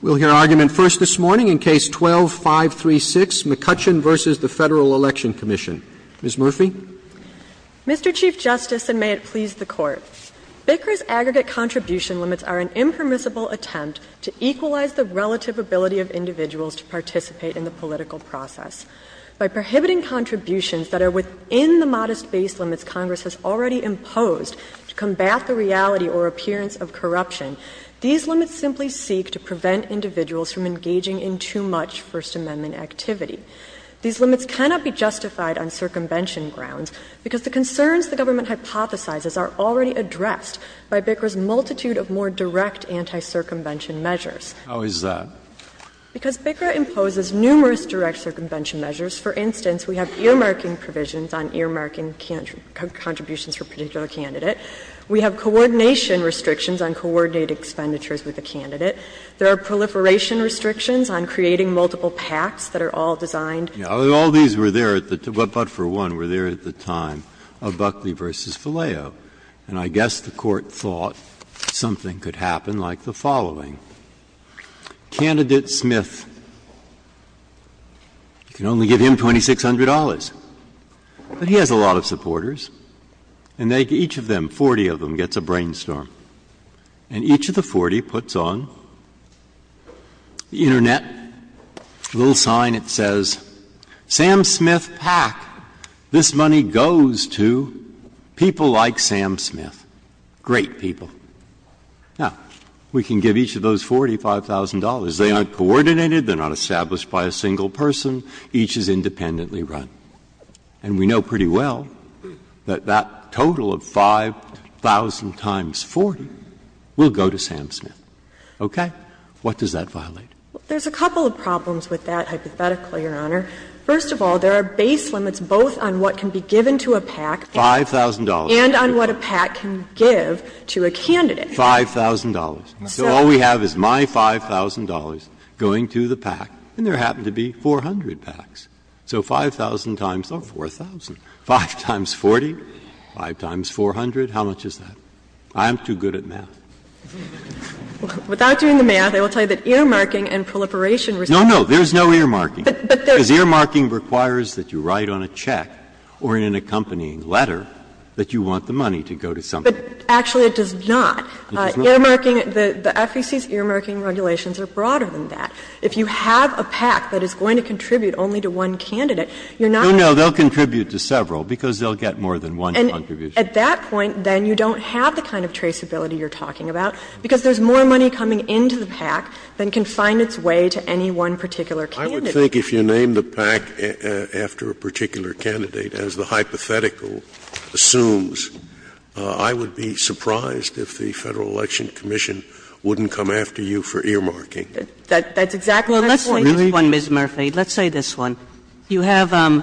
We'll hear argument first this morning in Case 12-536, McCutcheon v. Federal Election Comm'n. Ms. Murphy. Mr. Chief Justice, and may it please the Court, Bicker's aggregate contribution limits are an impermissible attempt to equalize the relative ability of individuals to participate in the political process. By prohibiting contributions that are within the modest base limits Congress has already imposed to combat the reality or appearance of corruption, these limits simply seek to prevent individuals from engaging in too much First Amendment activity. These limits cannot be justified on circumvention grounds, because the concerns the government hypothesizes are already addressed by Bicker's multitude of more direct anti-circumvention measures. How is that? Because Bicker imposes numerous direct circumvention measures. For instance, we have earmarking provisions on earmarking contributions for a particular candidate. We have coordination restrictions on coordinating expenditures with a candidate. There are proliferation restrictions on creating multiple pacts that are all designed to do that. Breyer, All these were there, but for one, were there at the time of Buckley v. Faleo. And I guess the Court thought something could happen like the following. Candidate Smith, you can only give him $2,600, but he has a lot of supporters, and each of them, 40 of them, gets a brainstorm. And each of the 40 puts on the Internet, a little sign that says, Sam Smith PAC. This money goes to people like Sam Smith, great people. Now, we can give each of those 40 $5,000. They aren't coordinated, they're not established by a single person, each is independently run. And we know pretty well that that total of 5,000 times 40 will go to Sam Smith. Okay? What does that violate? There's a couple of problems with that, hypothetically, Your Honor. First of all, there are base limits both on what can be given to a PAC. $5,000. And on what a PAC can give to a candidate. $5,000. So all we have is my $5,000 going to the PAC, and there happen to be 400 PACs. So 5,000 times, oh, 4,000, 5 times 40, 5 times 400, how much is that? I'm too good at math. Without doing the math, I will tell you that earmarking and proliferation respect to the PACs. No, no, there's no earmarking, because earmarking requires that you write on a check or in an accompanying letter that you want the money to go to something. Actually, it does not. Earmarking, the FEC's earmarking regulations are broader than that. If you have a PAC that is going to contribute only to one candidate, you're not going to get more than one contribution. And at that point, then, you don't have the kind of traceability you're talking about, because there's more money coming into the PAC than can find its way to any one particular candidate. I would think if you named a PAC after a particular candidate, as the hypothetical assumes, I would be surprised if the Federal Election Commission wouldn't come after you for earmarking. That's exactly what I'm saying. Kagan. Well, let's say this one, Ms. Murphy. Let's say this one. You have a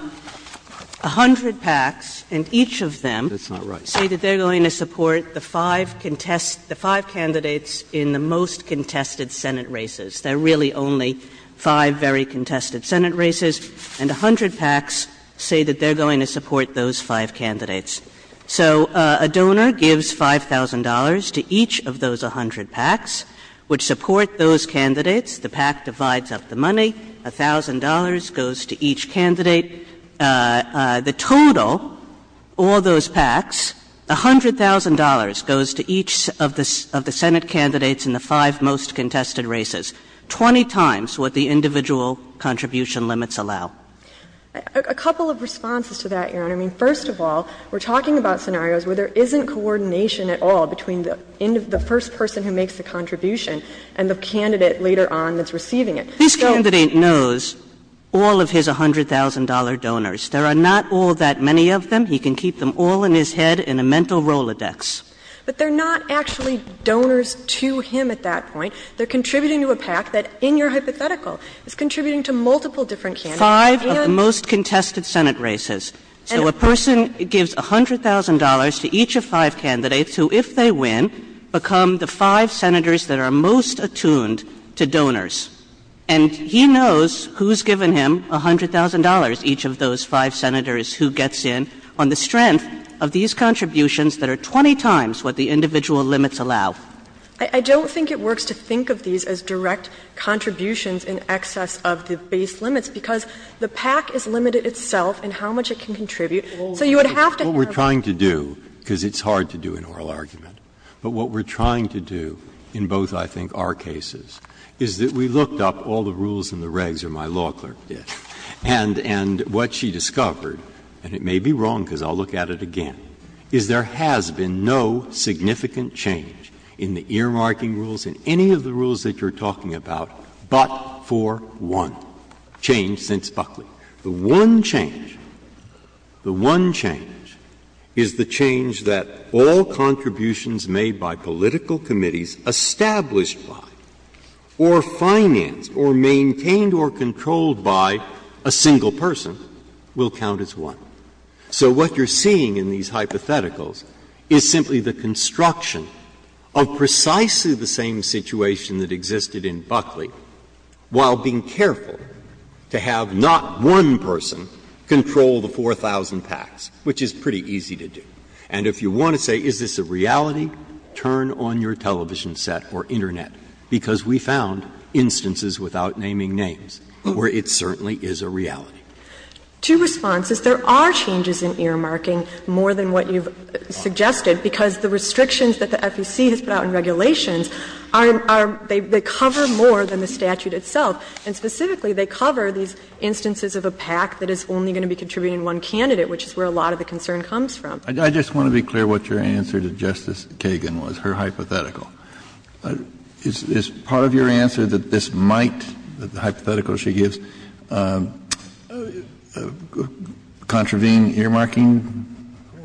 hundred PACs, and each of them say that they're going to support the five candidates in the most contested Senate races. There are really only five very contested Senate races. And a hundred PACs say that they're going to support those five candidates. So a donor gives $5,000 to each of those a hundred PACs, which support those candidates. The PAC divides up the money, $1,000 goes to each candidate. The total, all those PACs, $100,000 goes to each of the Senate candidates in the five most contested races, 20 times what the individual contribution limits allow. A couple of responses to that, Your Honor. I mean, first of all, we're talking about scenarios where there isn't coordination at all between the first person who makes the contribution and the candidate later on that's receiving it. So they're not all in his head in a mental Rolodex. But they're not actually donors to him at that point. They're contributing to a PAC that, in your hypothetical, is contributing to multiple different candidates. And I'm not going to go into the details of that, Your Honor, but I'm going to say that the PAC is a donor to five of the most contested Senate races. So a person gives $100,000 to each of five candidates who, if they win, become the five Senators that are most attuned to donors. And he knows who's given him $100,000, each of those five Senators who gets in, on the strength of these contributions that are 20 times what the individual limits allow. I don't think it works to think of these as direct contributions in excess of the base limits, because the PAC is limited itself in how much it can contribute. So you would have to have a role to play. Breyer. What we're trying to do, because it's hard to do an oral argument, but what we're trying to do in both, I think, our cases, is that we looked up all the rules and the regs, or my law clerk did, and what she discovered, and it may be wrong because I'll look at it again, is there has been no significant change in the earmarking rules, in any of the rules that you're talking about, but for one change since Buckley. The one change, the one change, is the change that all contributions made by political committees established by or financed or maintained or controlled by a single person will count as one. So what you're seeing in these hypotheticals is simply the construction of precisely the same situation that existed in Buckley while being careful to have not one person control the 4,000 PACs, which is pretty easy to do. And if you want to say is this a reality, turn on your television set or internet, because we found instances without naming names where it certainly is a reality. Two responses. There are changes in earmarking more than what you've suggested, because the restrictions that the FEC has put out in regulations are, are, they cover more than the statute itself, and specifically they cover these instances of a PAC that is only going to be contributing one candidate, which is where a lot of the concern comes from. Kennedy, I just want to be clear what your answer to Justice Kagan was, her hypothetical. Is part of your answer that this might, that the hypothetical she gives, is not a hypothetical and that it's a fact, that it's a fact, that it's a fact, that it's a fact? Or is that a contravene earmarking,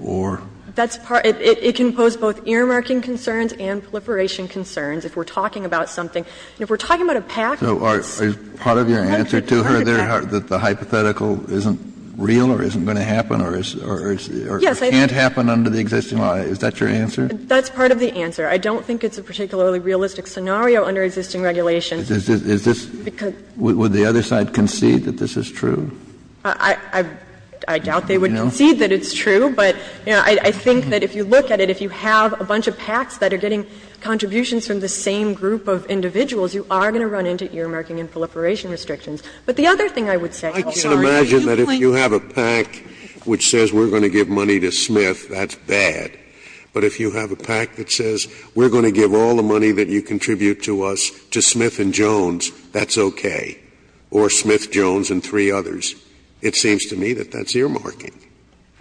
or? That's part of it. It can pose both earmarking concerns and proliferation concerns if we're talking about something. And if we're talking about a PAC, it's a fact. So is part of your answer to her there that the hypothetical isn't real or isn't going to happen, or it's the, or it can't happen under the existing law? Is that your answer? That's part of the answer. I don't think it's a particularly realistic scenario under existing regulations. Is this, is this, would the other side concede that this is true? I, I doubt they would concede that it's true, but, you know, I, I think that if you look at it, if you have a bunch of PACs that are getting contributions from the same group of individuals, you are going to run into earmarking and proliferation restrictions. But the other thing I would say, Your Honor, is that if you have a PAC which says we're going to give money to Smith, that's bad. But if you have a PAC that says we're going to give all the money that you contribute to us to Smith and Jones, that's okay, or Smith, Jones, and three others, it seems to me that that's earmarking.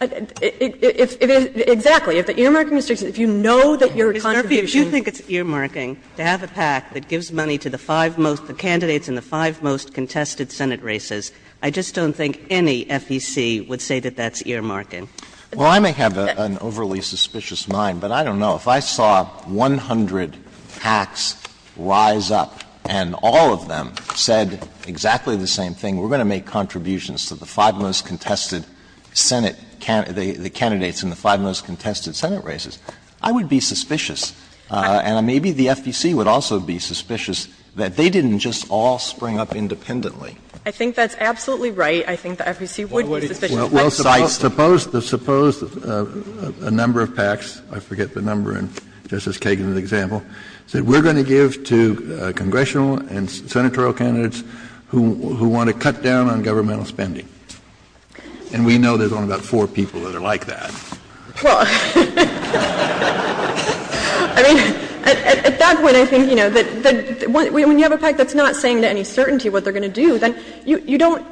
If, if, if, exactly, if the earmarking restrictions, if you know that your contribution Mr. Murphy, if you think it's earmarking to have a PAC that gives money to the five most, the candidates in the five most contested Senate races, I just don't think any FEC would say that that's earmarking. Alito, I don't know if I saw 100 PACs rise up and all of them said exactly the same thing, we're going to make contributions to the five most contested Senate, the candidates in the five most contested Senate races, I would be suspicious. And maybe the FEC would also be suspicious that they didn't just all spring up independently. I think that's absolutely right. I think the FEC would be suspicious. Kennedy. Kennedy. Well, suppose the, suppose that a number of PACs, I forget the number, and Justice Kagan is an example, that we're going to give to congressional and senatorial candidates who, who want to cut down on governmental spending. And we know there's only about four people that are like that. Well. I mean, at that point I think you know, that the one we have a PAC that's not saying to any certainty what they're going to do, then you don't,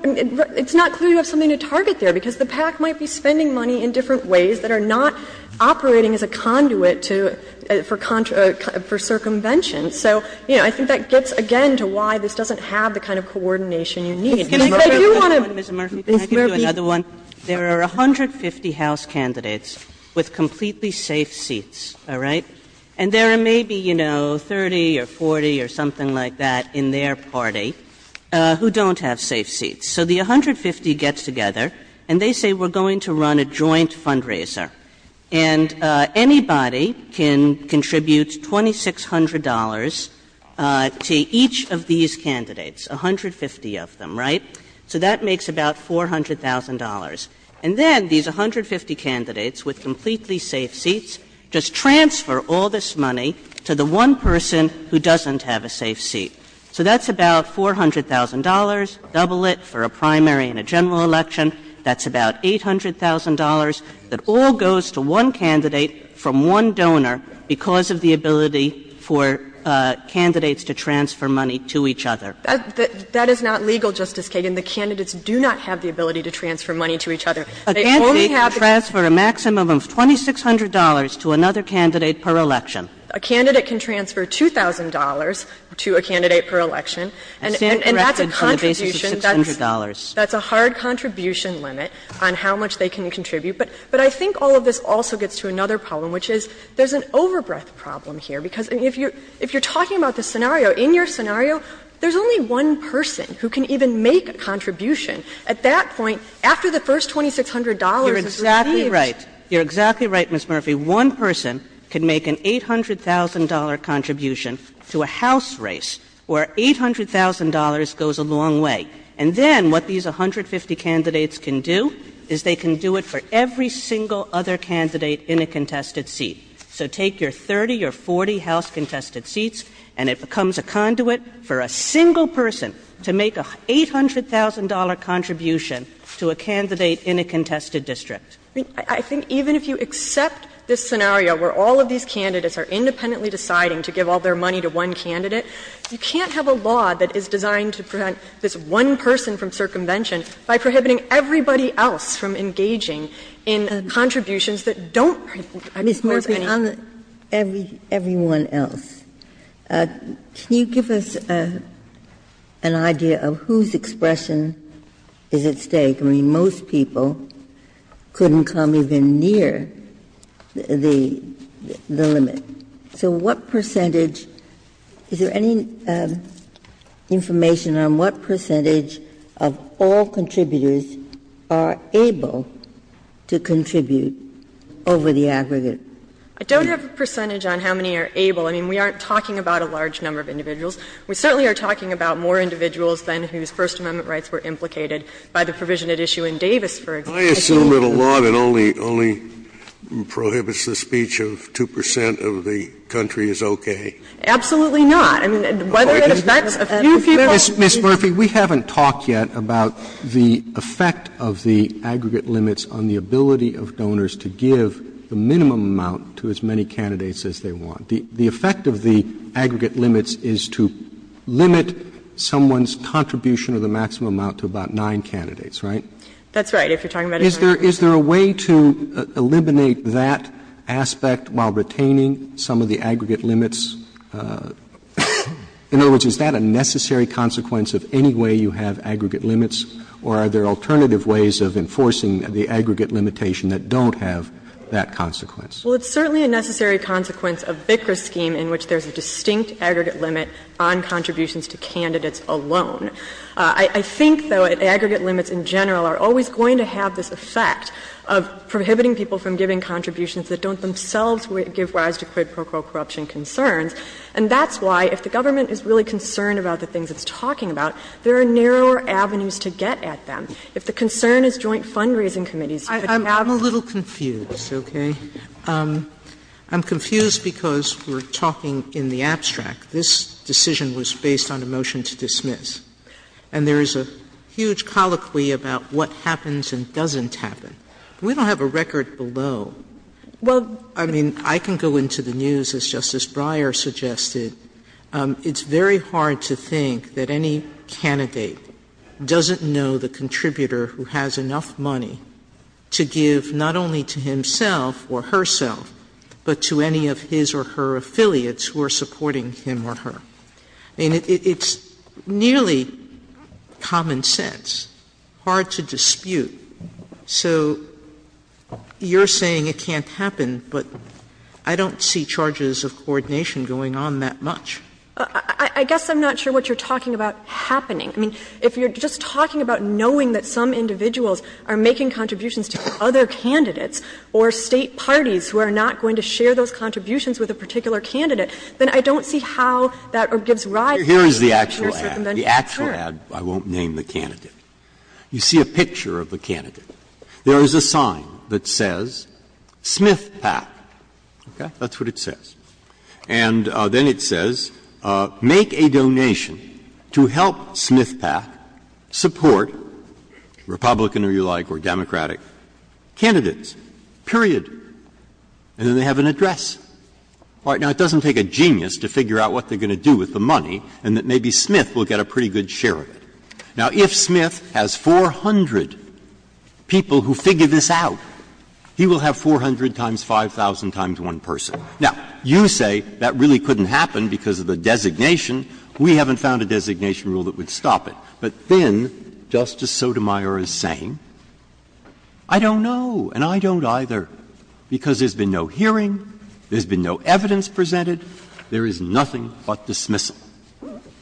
it's not clear you have something to target there, because the PAC might be spending money in different ways that are not operating as a conduit to, for contra, for circumvention. So, you know, I think that gets again to why this doesn't have the kind of coordination you need. And I do want to. Ms. Murphy, can I give you another one? There are 150 House candidates with completely safe seats, all right? And there are maybe, you know, 30 or 40 or something like that in their party who don't have safe seats. So the 150 gets together, and they say we're going to run a joint fundraiser. And anybody can contribute $2,600 to each of these candidates, 150 of them, right? So that makes about $400,000. And then these 150 candidates with completely safe seats just transfer all this money to the one person who doesn't have a safe seat. So that's about $400,000, double it for a primary and a general election. That's about $800,000. That all goes to one candidate from one donor because of the ability for candidates to transfer money to each other. That is not legal, Justice Kagan. The candidates do not have the ability to transfer money to each other. They only have the ability to transfer a maximum of $2,600 to another candidate per election. A candidate can transfer $2,000 to a candidate per election, and that's a contribution that's a hard contribution limit on how much they can contribute. But I think all of this also gets to another problem, which is there's an overbreath problem here, because if you're talking about this scenario, in your scenario, there's only one person who can even make a contribution. At that point, after the first $2,600 is received. You're exactly right, you're exactly right, Ms. Murphy. One person can make an $800,000 contribution to a house race where $800,000 goes a long way. And then what these 150 candidates can do is they can do it for every single other candidate in a contested seat. So take your 30 or 40 house contested seats and it becomes a conduit for a single person to make a $800,000 contribution to a candidate in a contested district. I think even if you accept this scenario where all of these candidates are independently deciding to give all their money to one candidate, you can't have a law that is designed to prevent this one person from circumvention by prohibiting everybody else from engaging in contributions that don't have any. Ginsburg On everyone else, can you give us an idea of whose expression is at stake? I mean, most people couldn't come even near the limit. So what percentage? Is there any information on what percentage of all contributors are able to contribute over the aggregate? I don't have a percentage on how many are able. I mean, we aren't talking about a large number of individuals. We certainly are talking about more individuals than whose First Amendment rights were implicated by the provision at issue in Davis, for example. I assume that a law that only prohibits the speech of 2 percent of the country is okay. Absolutely not. I mean, whether it affects a few people. Ms. Murphy, we haven't talked yet about the effect of the aggregate limits on the contribution of the maximum amount to as many candidates as they want. The effect of the aggregate limits is to limit someone's contribution of the maximum amount to about 9 candidates, right? That's right. If you're talking about a 9-percent limit. Is there a way to eliminate that aspect while retaining some of the aggregate limits? In other words, is that a necessary consequence of any way you have aggregate limits, or are there alternative ways of enforcing the aggregate limitation that don't have that consequence? Well, it's certainly a necessary consequence of Bikra's scheme in which there's a distinct aggregate limit on contributions to candidates alone. I think, though, that aggregate limits in general are always going to have this effect of prohibiting people from giving contributions that don't themselves give rise to quid pro quo corruption concerns. And that's why, if the government is really concerned about the things it's talking about, there are narrower avenues to get at them. If the concern is joint fundraising committees, you could talk about that. I'm a little confused, okay? I'm confused because we're talking in the abstract. This decision was based on a motion to dismiss. And there is a huge colloquy about what happens and doesn't happen. We don't have a record below. Well, I mean, I can go into the news, as Justice Breyer suggested. It's very hard to think that any candidate doesn't know the contributor who has enough money to give not only to himself or herself, but to any of his or her affiliates who are supporting him or her. I mean, it's nearly common sense, hard to dispute. So you're saying it can't happen, but I don't see charges of coordination going on that much. I guess I'm not sure what you're talking about happening. I mean, if you're just talking about knowing that some individuals are making contributions to other candidates or State parties who are not going to share those contributions with a particular candidate, then I don't see how that gives rise to your circumvention. Breyer, the actual ad, I won't name the candidate. You see a picture of the candidate. There is a sign that says, SmithPak, okay? That's what it says. And then it says, make a donation to help SmithPak support Republican, or you like, or Democratic candidates, period. And then they have an address. All right. Now, it doesn't take a genius to figure out what they're going to do with the money and that maybe Smith will get a pretty good share of it. Now, if Smith has 400 people who figure this out, he will have 400 times 5,000 times one person. Now, you say that really couldn't happen because of the designation. We haven't found a designation rule that would stop it. But then Justice Sotomayor is saying, I don't know and I don't either, because there's been no hearing, there's been no evidence presented, there is nothing but dismissal.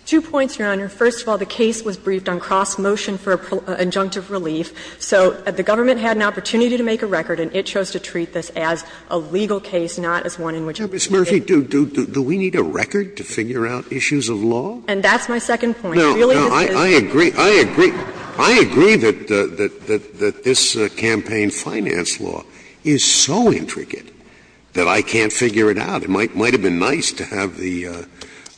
Two points, Your Honor. First of all, the case was briefed on cross-motion for injunctive relief. So the government had an opportunity to make a record and it chose to treat this as a legal case, not as one in which we can't do it. Scalia, do we need a record to figure out issues of law? And that's my second point. Really, this is the case. Scalia, I agree, I agree, I agree that this campaign finance law is so intricate that I can't figure it out. It might have been nice to have the,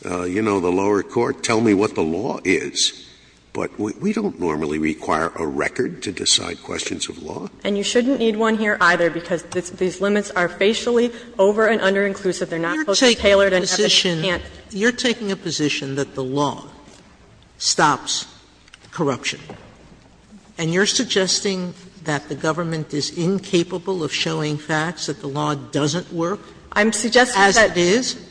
you know, the lower court tell me what the law is, but we don't normally require a record to decide questions of law. And you shouldn't need one here either, because these limits are facially over- and under-inclusive. They're not post-Taylor and you can't. Sotomayor, you're taking a position that the law stops corruption, and you're suggesting that the government is incapable of showing facts that the law doesn't work as it is? I'm suggesting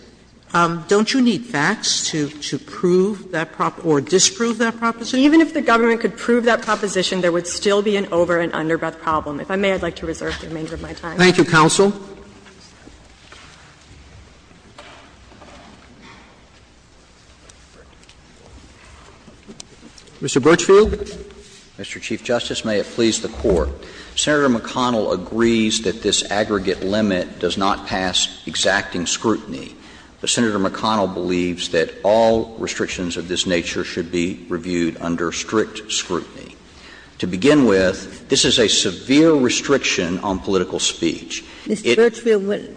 that. Don't you need facts to prove that or disprove that proposition? Even if the government could prove that proposition, there would still be an over- and under-the-problem. If I may, I'd like to reserve the remainder of my time. Thank you, counsel. Mr. Birchfield. Mr. Chief Justice, may it please the Court. Senator McConnell agrees that this aggregate limit does not pass exacting scrutiny. But Senator McConnell believes that all restrictions of this nature should be reviewed under strict scrutiny. To begin with, this is a severe restriction on political speech. It's a severe restriction on political speech. Mr. Birchfield,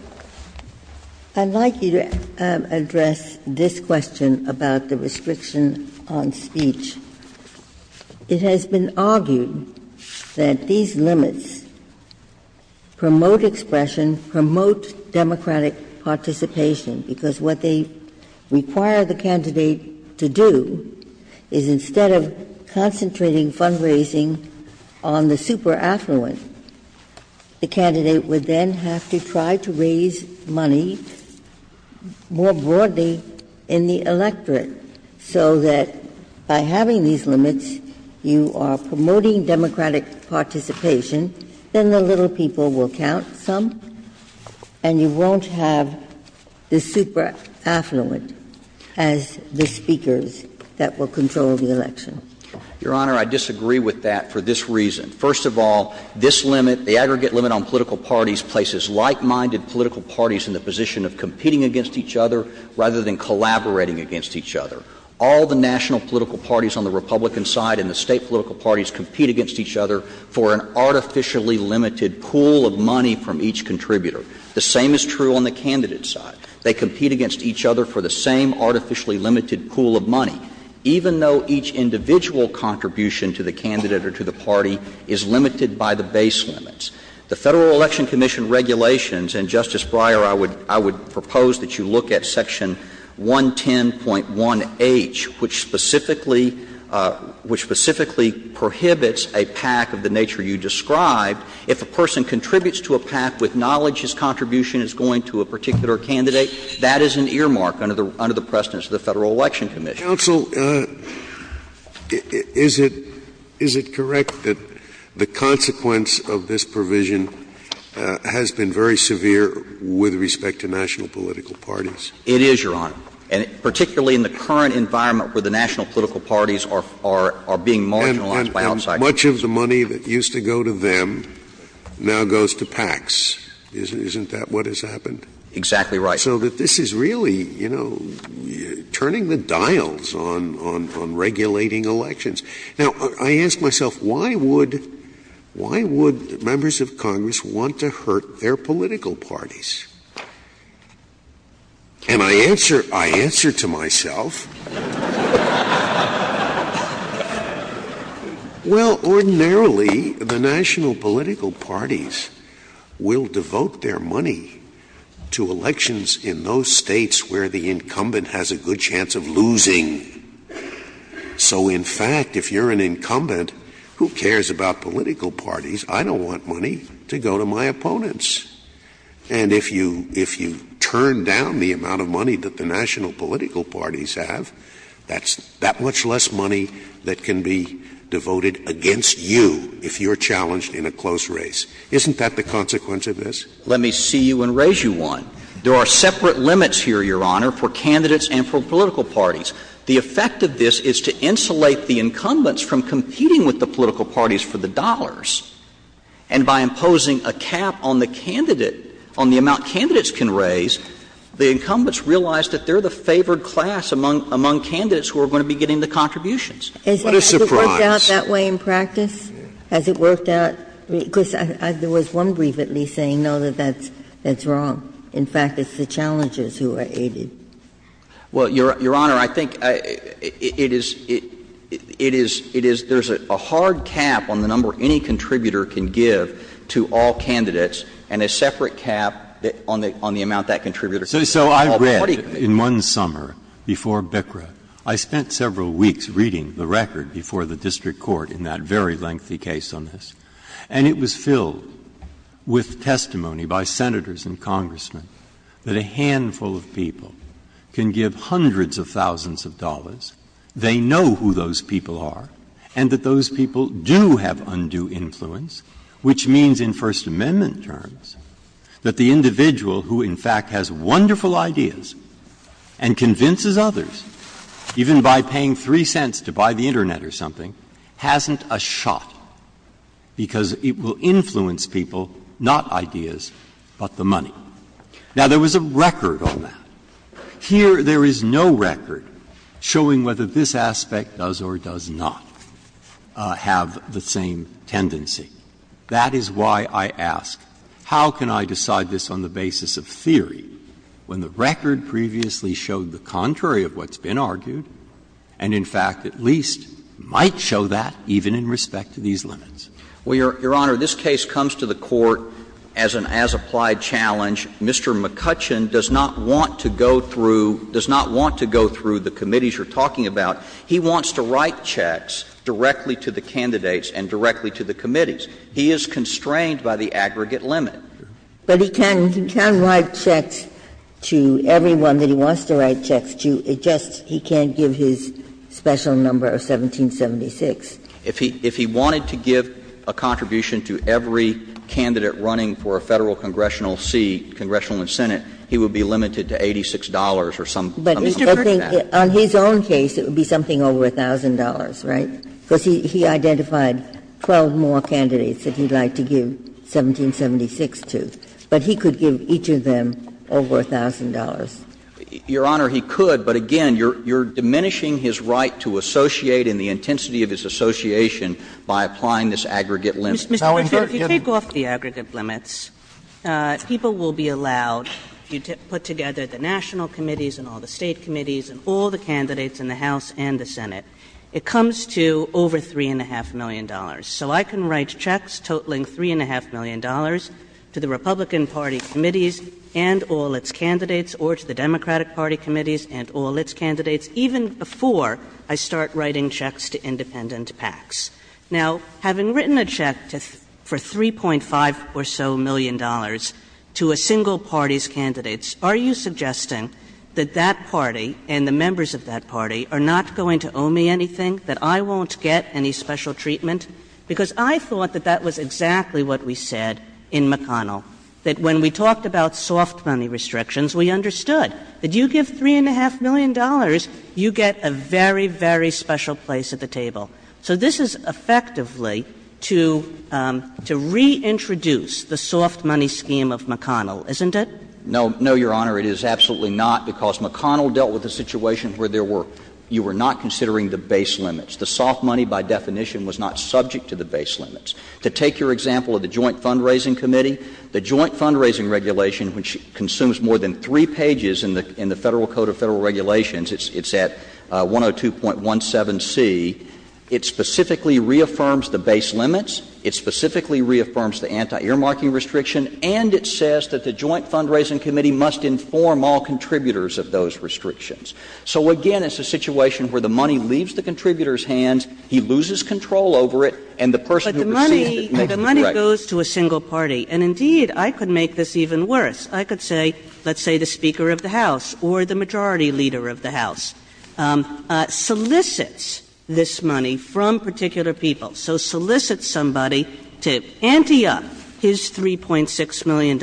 I'd like you to address this question about the restriction on speech. It has been argued that these limits promote expression, promote democratic participation, because what they require the candidate to do is instead of concentrating fundraising on the super-affluent, the candidate would then have to try to raise money more broadly in the electorate, so that by having these limits, you are promoting democratic participation, then the little people will count some, and you won't have the super-affluent as the speakers that will control the election. Your Honor, I disagree with that for this reason. First of all, this limit, the aggregate limit on political parties, places like-minded political parties in the position of competing against each other rather than collaborating against each other. All the national political parties on the Republican side and the State political parties compete against each other for an artificially limited pool of money from each contributor. The same is true on the candidate side. They compete against each other for the same artificially limited pool of money. Even though each individual contribution to the candidate or to the party is limited by the base limits. The Federal Election Commission regulations, and, Justice Breyer, I would propose that you look at section 110.1h, which specifically prohibits a PAC of the nature you described if a person contributes to a PAC with knowledge his contribution is going to a particular candidate. That is an earmark under the precedence of the Federal Election Commission. Counsel, is it correct that the consequence of this provision has been very severe with respect to national political parties? It is, Your Honor, and particularly in the current environment where the national political parties are being marginalized by outsiders. And much of the money that used to go to them now goes to PACs. Isn't that what has happened? Exactly right. So that this is really, you know, turning the dials on regulating elections. Now, I ask myself, why would members of Congress want to hurt their political parties? And I answer to myself, well, ordinarily, the national political parties will devote their money to elections in those states where the incumbent has a good chance of losing. So in fact, if you're an incumbent, who cares about political parties? I don't want money to go to my opponents. And if you turn down the amount of money that the national political parties have, that's that much less money that can be devoted against you if you're challenged in a close race. Isn't that the consequence of this? Let me see you and raise you one. There are separate limits here, Your Honor, for candidates and for political parties. The effect of this is to insulate the incumbents from competing with the political parties for the dollars. And by imposing a cap on the candidate, on the amount candidates can raise, the incumbents realize that they're the favored class among candidates who are going to be getting the contributions. What a surprise. Has it worked out that way in practice? Has it worked out? Because there was one brief at least saying, no, that that's wrong. In fact, it's the challengers who are aided. Well, Your Honor, I think it is — it is — it is — there's a hard cap on the number any contributor can give to all candidates and a separate cap on the amount that contributor can give to all party candidates. So I read in one summer before BCCRA, I spent several weeks reading the record before the district court in that very lengthy case on this, and it was filled with testimony by Senators and Congressmen that a handful of people can give hundreds of thousands of dollars, they know who those people are, and that those people do have undue influence, which means in First Amendment terms that the individual who in fact has wonderful ideas and convinces others, even by paying 3 cents to buy the Internet or something, hasn't a shot, because it will influence people, not ideas, but the money. Now, there was a record on that. Here there is no record showing whether this aspect does or does not have the same tendency. That is why I ask, how can I decide this on the basis of theory when the record previously showed the contrary of what's been argued and, in fact, at least might show that even in respect to these limits? Well, Your Honor, this case comes to the Court as an as-applied challenge. Mr. McCutcheon does not want to go through, does not want to go through the committees you're talking about. He wants to write checks directly to the candidates and directly to the committees. He is constrained by the aggregate limit. But he can write checks to everyone that he wants to write checks to, it's just he can't give his special number of 1776. If he wanted to give a contribution to every candidate running for a Federal congressional seat, congressional and Senate, he would be limited to $86 or something like that. But I think on his own case it would be something over $1,000, right? Because he identified 12 more candidates that he would like to give 1776. But he could give each of them over $1,000. Your Honor, he could, but again, you're diminishing his right to associate in the intensity of his association by applying this aggregate limit. Ms. Kagan. If you take off the aggregate limits, people will be allowed, if you put together the national committees and all the State committees and all the candidates in the House and the Senate, it comes to over $3.5 million. So I can write checks totaling $3.5 million to the Republican Party committees and all its candidates or to the Democratic Party committees and all its candidates even before I start writing checks to independent PACs. Now, having written a check for $3.5 or so million to a single party's candidates, are you suggesting that that party and the members of that party are not going to owe me anything, that I won't get any special treatment? Because I thought that that was exactly what we said in McConnell, that when we talked about soft money restrictions, we understood that you give $3.5 million, you get a very, very special place at the table. So this is effectively to reintroduce the soft money scheme of McConnell, isn't it? No, no, Your Honor, it is absolutely not, because McConnell dealt with a situation where there were you were not considering the base limits. The soft money, by definition, was not subject to the base limits. To take your example of the Joint Fundraising Committee, the Joint Fundraising Regulation, which consumes more than three pages in the Federal Code of Federal Regulations, it's at 102.17c, it specifically reaffirms the base limits, it specifically reaffirms the anti-earmarking restriction, and it says that the Joint Fundraising Committee must inform all contributors of those restrictions. So, again, it's a situation where the money leaves the contributor's hands, he loses control over it, and the person who received it makes the correction. Kagan. Kagan. Kagan. And indeed, I could make this even worse. I could say, let's say the Speaker of the House or the Majority Leader of the House solicits this money from particular people, so solicits somebody to ante up his $3.6 million,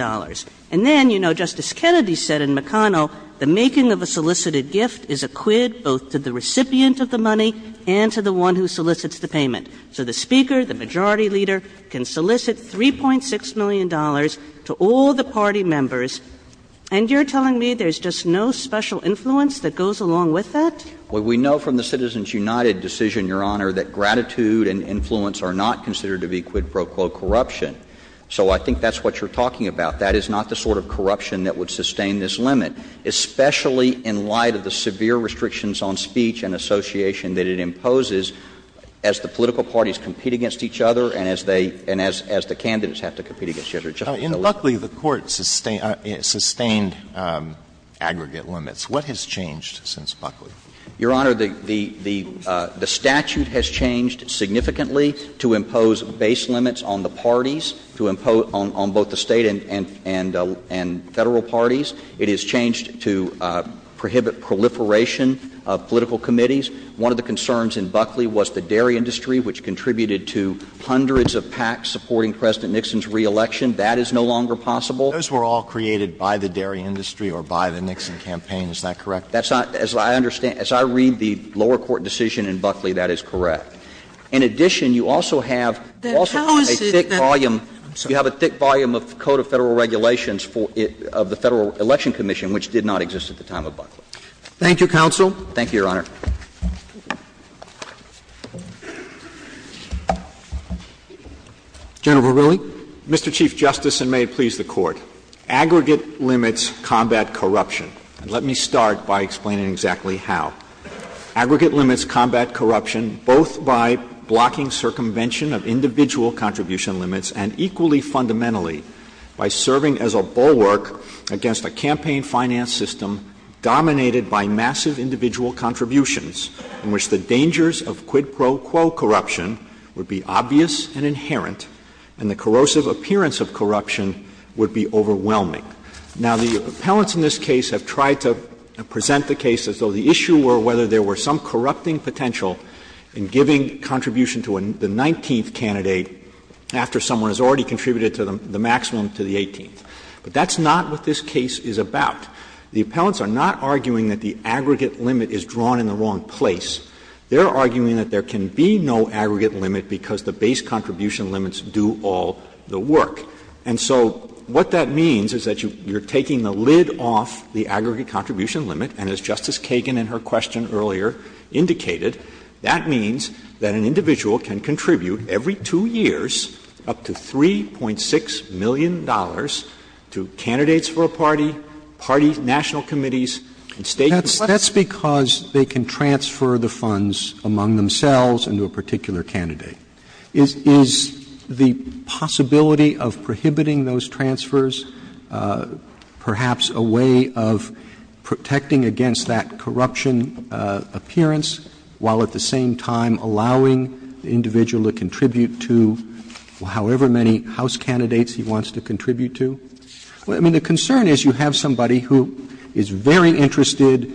and then, you know, Justice Kennedy said in McConnell, the making of a solicited gift is a quid both to the recipient of the money and to the one who solicits the payment. So the Speaker, the Majority Leader, can solicit $3.6 million to all the party members, and you're telling me there's just no special influence that goes along with that? Well, we know from the Citizens United decision, Your Honor, that gratitude and influence are not considered to be quid pro quo corruption. So I think that's what you're talking about. That is not the sort of corruption that would sustain this limit, especially in light of the severe restrictions on speech and association that it imposes as the political parties compete against each other and as they — and as the candidates have to compete against each other. In Buckley, the Court sustained aggregate limits. What has changed since Buckley? Your Honor, the statute has changed significantly to impose base limits on the parties, to impose on both the State and Federal parties. It has changed to prohibit proliferation of political committees. One of the concerns in Buckley was the dairy industry, which contributed to hundreds of PACs supporting President Nixon's reelection. That is no longer possible. Those were all created by the dairy industry or by the Nixon campaign, is that correct? That's not — as I understand — as I read the lower court decision in Buckley, that is correct. In addition, you also have a thick volume of the Code of Federal Regulations of the Federal Election Commission, which did not exist at the time of Buckley. Thank you, counsel. Thank you, Your Honor. General Verrilli. Mr. Chief Justice, and may it please the Court. Aggregate limits combat corruption. And let me start by explaining exactly how. Aggregate limits combat corruption both by blocking circumvention of individual contribution limits and, equally fundamentally, by serving as a bulwark against a campaign finance system dominated by massive individual contributions, in which the dangers of quid pro quo corruption would be obvious and inherent, and the corrosive appearance of corruption would be overwhelming. Now, the appellants in this case have tried to present the case as though the issue were whether there were some corrupting potential in giving contribution to the 19th candidate after someone has already contributed to the maximum to the 18th. But that's not what this case is about. The appellants are not arguing that the aggregate limit is drawn in the wrong place. They are arguing that there can be no aggregate limit because the base contribution limits do all the work. And so what that means is that you are taking the lid off the aggregate contribution limit, and as Justice Kagan in her question earlier indicated, that means that an individual can contribute every two years up to $3.6 million to candidates for a party, party national committees, and state collections. Roberts' that's because they can transfer the funds among themselves into a particular candidate. Is the possibility of prohibiting those transfers perhaps a way of protecting against that corruption appearance, while at the same time allowing the individual to contribute to however many House candidates he wants to contribute to? I mean, the concern is you have somebody who is very interested,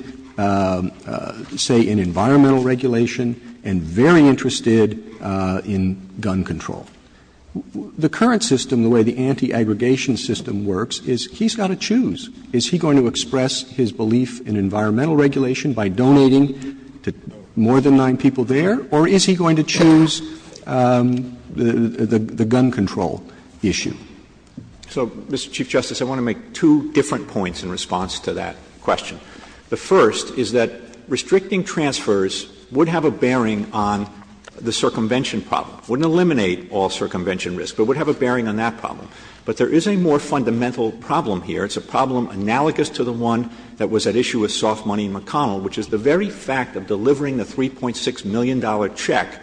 say, in environmental regulation and very interested in gun control. The current system, the way the anti-aggregation system works, is he's got to choose. Is he going to express his belief in environmental regulation by donating to more than nine people there, or is he going to choose the gun control issue? Verrilli, So, Mr. Chief Justice, I want to make two different points in response to that question. The first is that restricting transfers would have a bearing on the circumvention problem, wouldn't eliminate all circumvention risk, but would have a bearing on that problem. But there is a more fundamental problem here. It's a problem analogous to the one that was at issue with Soft Money McConnell, which is the very fact of delivering the $3.6 million check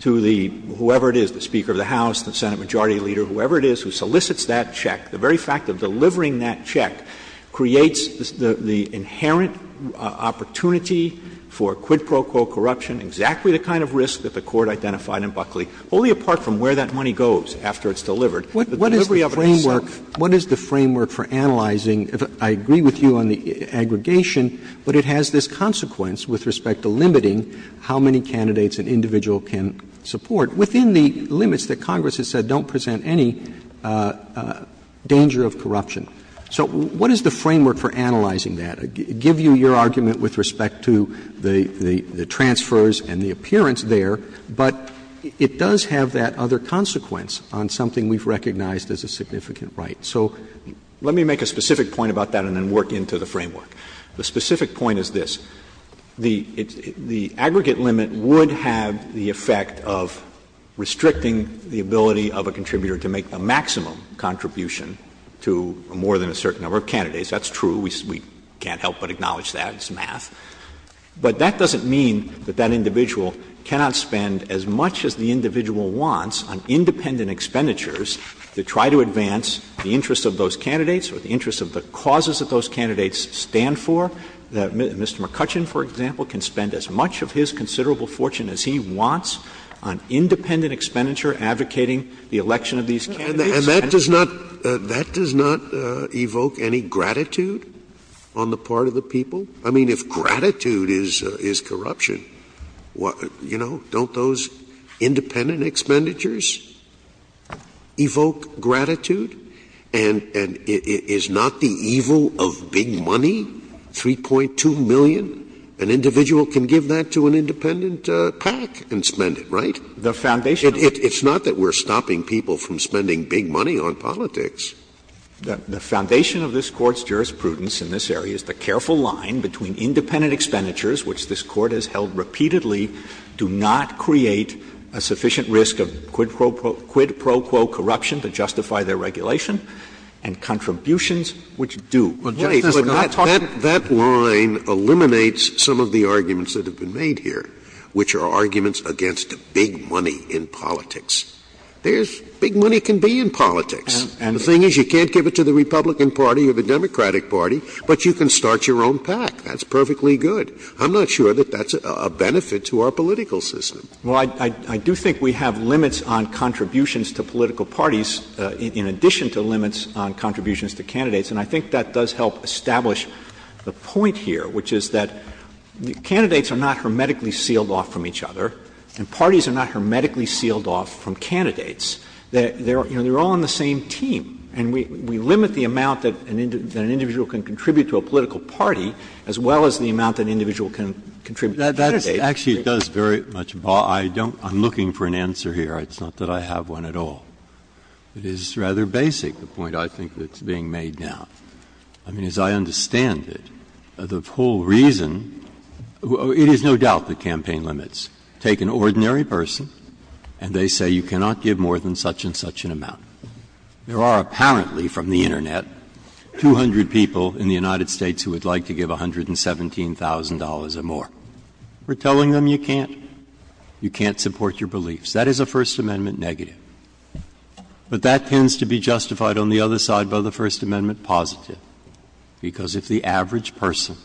to the – whoever it is, the Speaker of the House, the Senate majority leader, whoever it is who solicits that check. The very fact of delivering that check creates the inherent opportunity for quid pro quo corruption, exactly the kind of risk that the Court identified in Buckley, only apart from where that money goes after it's delivered. What is the framework for analyzing – I agree with you on the aggregation, but it has this consequence with respect to limiting how many candidates an individual can support within the limits that Congress has said don't present any danger of corruption. So what is the framework for analyzing that? I give you your argument with respect to the transfers and the appearance there, but it does have that other consequence on something we've recognized as a significant right. So let me make a specific point about that and then work into the framework. The specific point is this. The aggregate limit would have the effect of restricting the ability of a contributor to make a maximum contribution to more than a certain number of candidates. That's true. We can't help but acknowledge that. It's math. But that doesn't mean that that individual cannot spend as much as the individual wants on independent expenditures to try to advance the interests of those candidates or the interests of the causes that those candidates stand for. Mr. McCutcheon, for example, can spend as much of his considerable fortune as he wants on independent expenditure advocating the election of these candidates. Scalia. And that does not – that does not evoke any gratitude on the part of the people? I mean, if gratitude is corruption, you know, don't those independent expenditures evoke gratitude? And is not the evil of big money, 3.2 million? An individual can give that to an independent PAC and spend it, right? The foundation of this Court's jurisprudence in this area is the careful line that this Court has held repeatedly do not create a sufficient risk of quid pro quo corruption to justify their regulation, and contributions which do. Scalia. But that line eliminates some of the arguments that have been made here, which are arguments against big money in politics. There's – big money can be in politics. And the thing is, you can't give it to the Republican Party or the Democratic Party, but you can start your own PAC. That's perfectly good. I'm not sure that that's a benefit to our political system. Well, I do think we have limits on contributions to political parties in addition to limits on contributions to candidates. And I think that does help establish the point here, which is that candidates are not hermetically sealed off from each other, and parties are not hermetically sealed off from candidates. They're all on the same team. And we limit the amount that an individual can contribute to a political party as well as the amount that an individual can contribute to candidates. Breyer. Actually, it does very much bother – I don't – I'm looking for an answer here. It's not that I have one at all. It is rather basic, the point I think that's being made now. I mean, as I understand it, the whole reason – it is no doubt the campaign limits. Take an ordinary person, and they say you cannot give more than such and such an amount. There are apparently from the Internet 200 people in the United States who would like to give $117,000 or more. We're telling them you can't. You can't support your beliefs. That is a First Amendment negative. But that tends to be justified on the other side by the First Amendment positive, because if the average person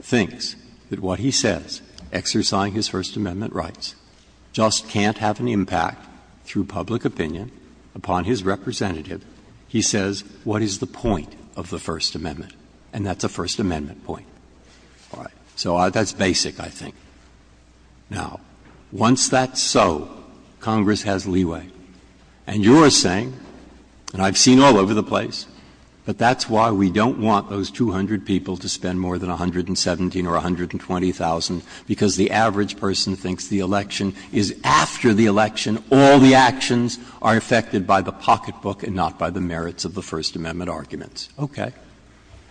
thinks that what he says, exercising his First Amendment rights, just can't have an impact through public opinion upon his representative, he says, what is the point of the First Amendment? And that's a First Amendment point. All right. So that's basic, I think. Now, once that's so, Congress has leeway. And you're saying, and I've seen all over the place, but that's why we don't want those 200 people to spend more than $117,000 or $120,000, because the average person thinks the election is after the election, all the actions are affected by the pocketbook and not by the merits of the First Amendment arguments. Okay.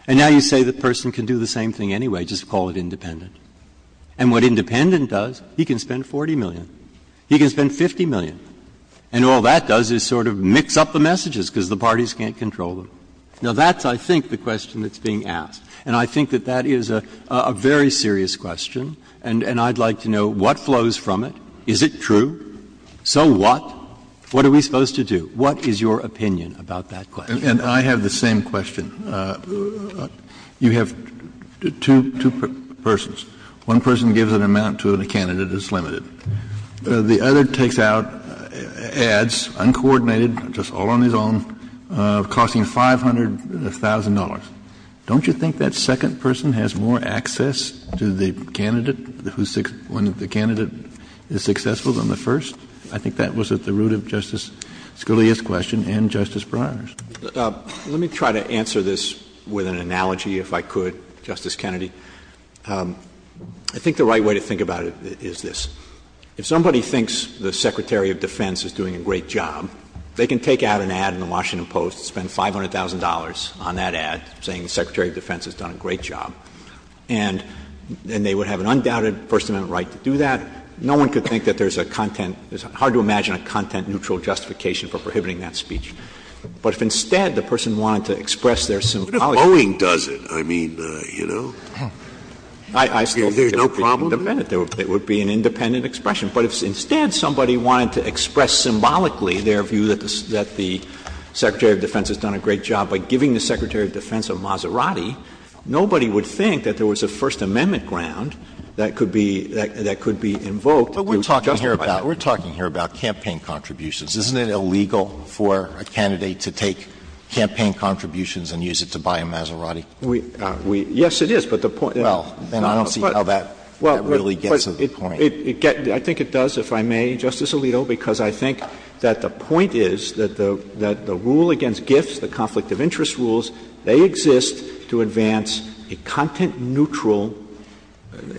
And now you say the person can do the same thing anyway, just call it independent. And what independent does, he can spend $40 million. He can spend $50 million. And all that does is sort of mix up the messages, because the parties can't control them. Now, that's, I think, the question that's being asked. And I think that that is a very serious question, and I'd like to know what flows from it. Is it true? So what? What are we supposed to do? What is your opinion about that question? And I have the same question. You have two persons. One person gives an amount to a candidate that's limited. The other takes out ads, uncoordinated, just all on his own, costing $500,000. Don't you think that second person has more access to the candidate who's the candidate is successful than the first? I think that was at the root of Justice Scalia's question and Justice Breyer's. Let me try to answer this with an analogy, if I could, Justice Kennedy. I think the right way to think about it is this. If somebody thinks the Secretary of Defense is doing a great job, they can take out an ad in the Washington Post, spend $500,000 on that ad, saying the Secretary of Defense has done a great job, and they would have an undoubted First Amendment right to do that. No one could think that there's a content — it's hard to imagine a content-neutral justification for prohibiting that speech. But if instead the person wanted to express their symbology — But if Boeing does it, I mean, you know, there's no problem? It would be an independent expression. But if instead somebody wanted to express symbolically their view that the Secretary of Defense has done a great job by giving the Secretary of Defense a Maserati, nobody would think that there was a First Amendment ground that could be invoked — But we're talking here about campaign contributions. Isn't it illegal for a candidate to take campaign contributions and use it to buy a Maserati? We — yes, it is. But the point — Well, then I don't see how that really gets to the point. It gets — I think it does, if I may, Justice Alito, because I think that the point is that the rule against gifts, the conflict of interest rules, they exist to advance a content-neutral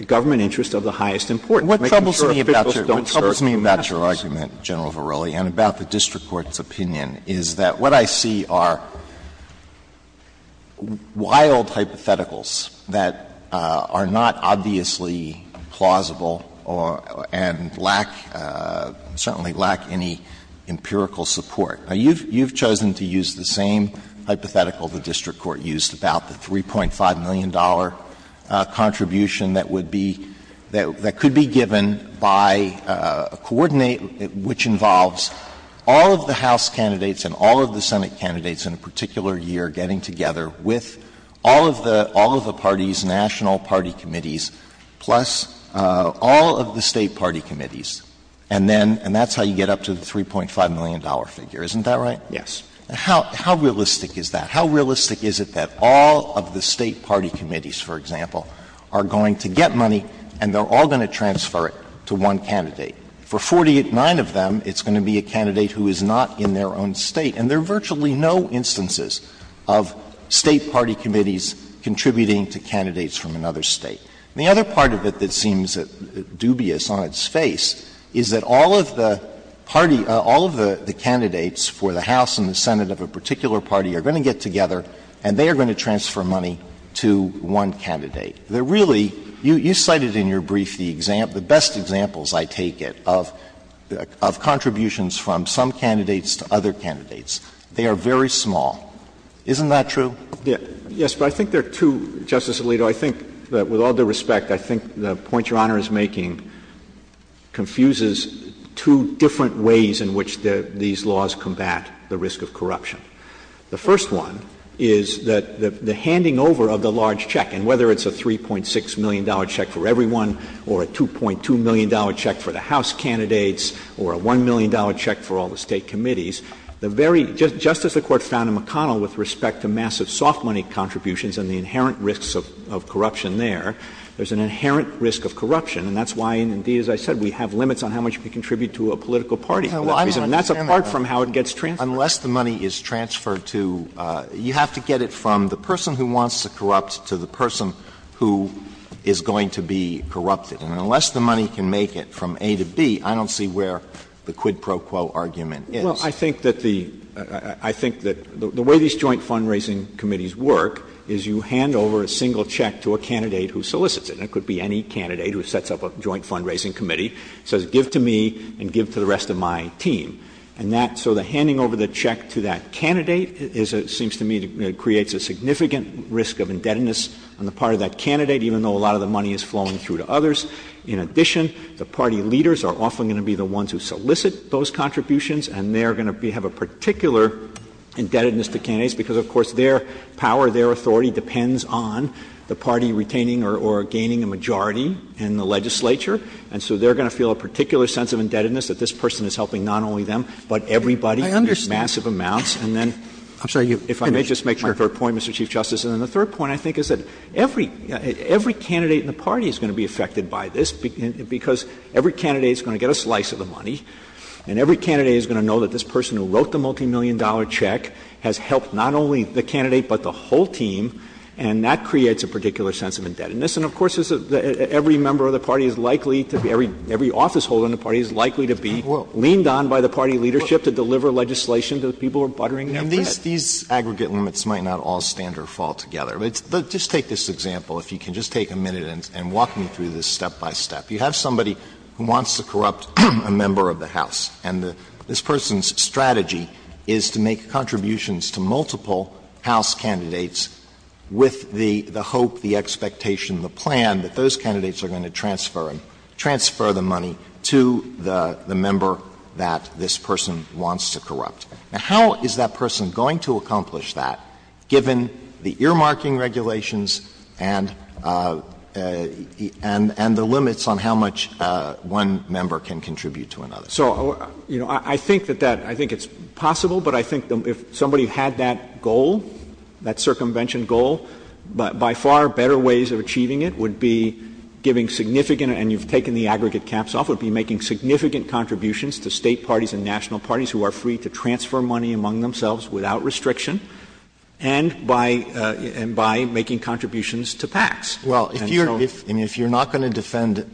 government interest of the highest importance. to say about the district court's opinion is that what I see are wild hypotheticals that are not obviously plausible and lack — certainly lack any empirical support. Now, you've chosen to use the same hypothetical the district court used about the $3.5 million contribution that would be — that could be given by a coordinate which involves all of the House candidates and all of the Senate candidates in a particular year getting together with all of the parties, national party committees, plus all of the State party committees. And then — and that's how you get up to the $3.5 million figure. Isn't that right? Yes. And how realistic is that? How realistic is it that all of the State party committees, for example, are going to get money and they're all going to transfer it to one candidate? For 49 of them, it's going to be a candidate who is not in their own State. And there are virtually no instances of State party committees contributing to candidates from another State. And the other part of it that seems dubious on its face is that all of the party — all of the candidates for the House and the Senate of a particular party are going to get together and they are going to transfer money to one candidate. They're really — you cited in your brief the best examples, I take it, of contributions from some candidates to other candidates. They are very small. Isn't that true? Yes. But I think there are two, Justice Alito. I think that with all due respect, I think the point Your Honor is making confuses two different ways in which these laws combat the risk of corruption. The first one is that the handing over of the large check, and whether it's a $3.6 million check for everyone or a $2.2 million check for the House candidates or a $1 million check for all the State committees, the very — just as the Court found in McConnell with respect to massive soft money contributions and the inherent risks of corruption there, there's an inherent risk of corruption. And that's why, indeed, as I said, we have limits on how much we contribute to a political party for that reason. And that's apart from how it gets transferred. Unless the money is transferred to — you have to get it from the person who wants to corrupt to the person who is going to be corrupted. And unless the money can make it from A to B, I don't see where the quid pro quo argument is. Well, I think that the — I think that the way these joint fundraising committees work is you hand over a single check to a candidate who solicits it. And it could be any candidate who sets up a joint fundraising committee, says give to me and give to the rest of my team. And that — so the handing over the check to that candidate is a — seems to me it creates a significant risk of indebtedness on the part of that candidate, even though a lot of the money is flowing through to others. In addition, the party leaders are often going to be the ones who solicit those contributions, and they are going to have a particular indebtedness to candidates, because, of course, their power, their authority depends on the party retaining or gaining a majority in the legislature. And so they are going to feel a particular sense of indebtedness that this person is helping not only them, but everybody in massive amounts. I understand. And then — I'm sorry, you — If I may just make my third point, Mr. Chief Justice. And the third point, I think, is that every — every candidate in the party is going to be affected by this, because every candidate is going to get a slice of the money, and every candidate is going to know that this person who wrote the multimillion dollar check has helped not only the candidate, but the whole team, and that creates a particular sense of indebtedness. And, of course, every member of the party is likely to be — every officeholder in the party is likely to be leaned on by the party leadership to deliver legislation to the people who are buttering their bread. And these — these aggregate limits might not all stand or fall together. But just take this example, if you can just take a minute and walk me through this step by step. You have somebody who wants to corrupt a member of the House, and this person's strategy is to make contributions to multiple House candidates with the — the hope, the expectation, the plan that those candidates are going to transfer them, transfer the money to the — the member that this person wants to corrupt. Now, how is that person going to accomplish that, given the earmarking regulations and — and — and the limits on how much one member can contribute to another? So, you know, I think that that — I think it's possible, but I think if somebody had that goal, that circumvention goal, by far better ways of achieving it would be giving significant — and you've taken the aggregate caps off — would be making significant contributions to State parties and national parties who are free to transfer money among themselves without restriction, and by — and by making contributions to PACs. Alito, I mean, if you're not going to defend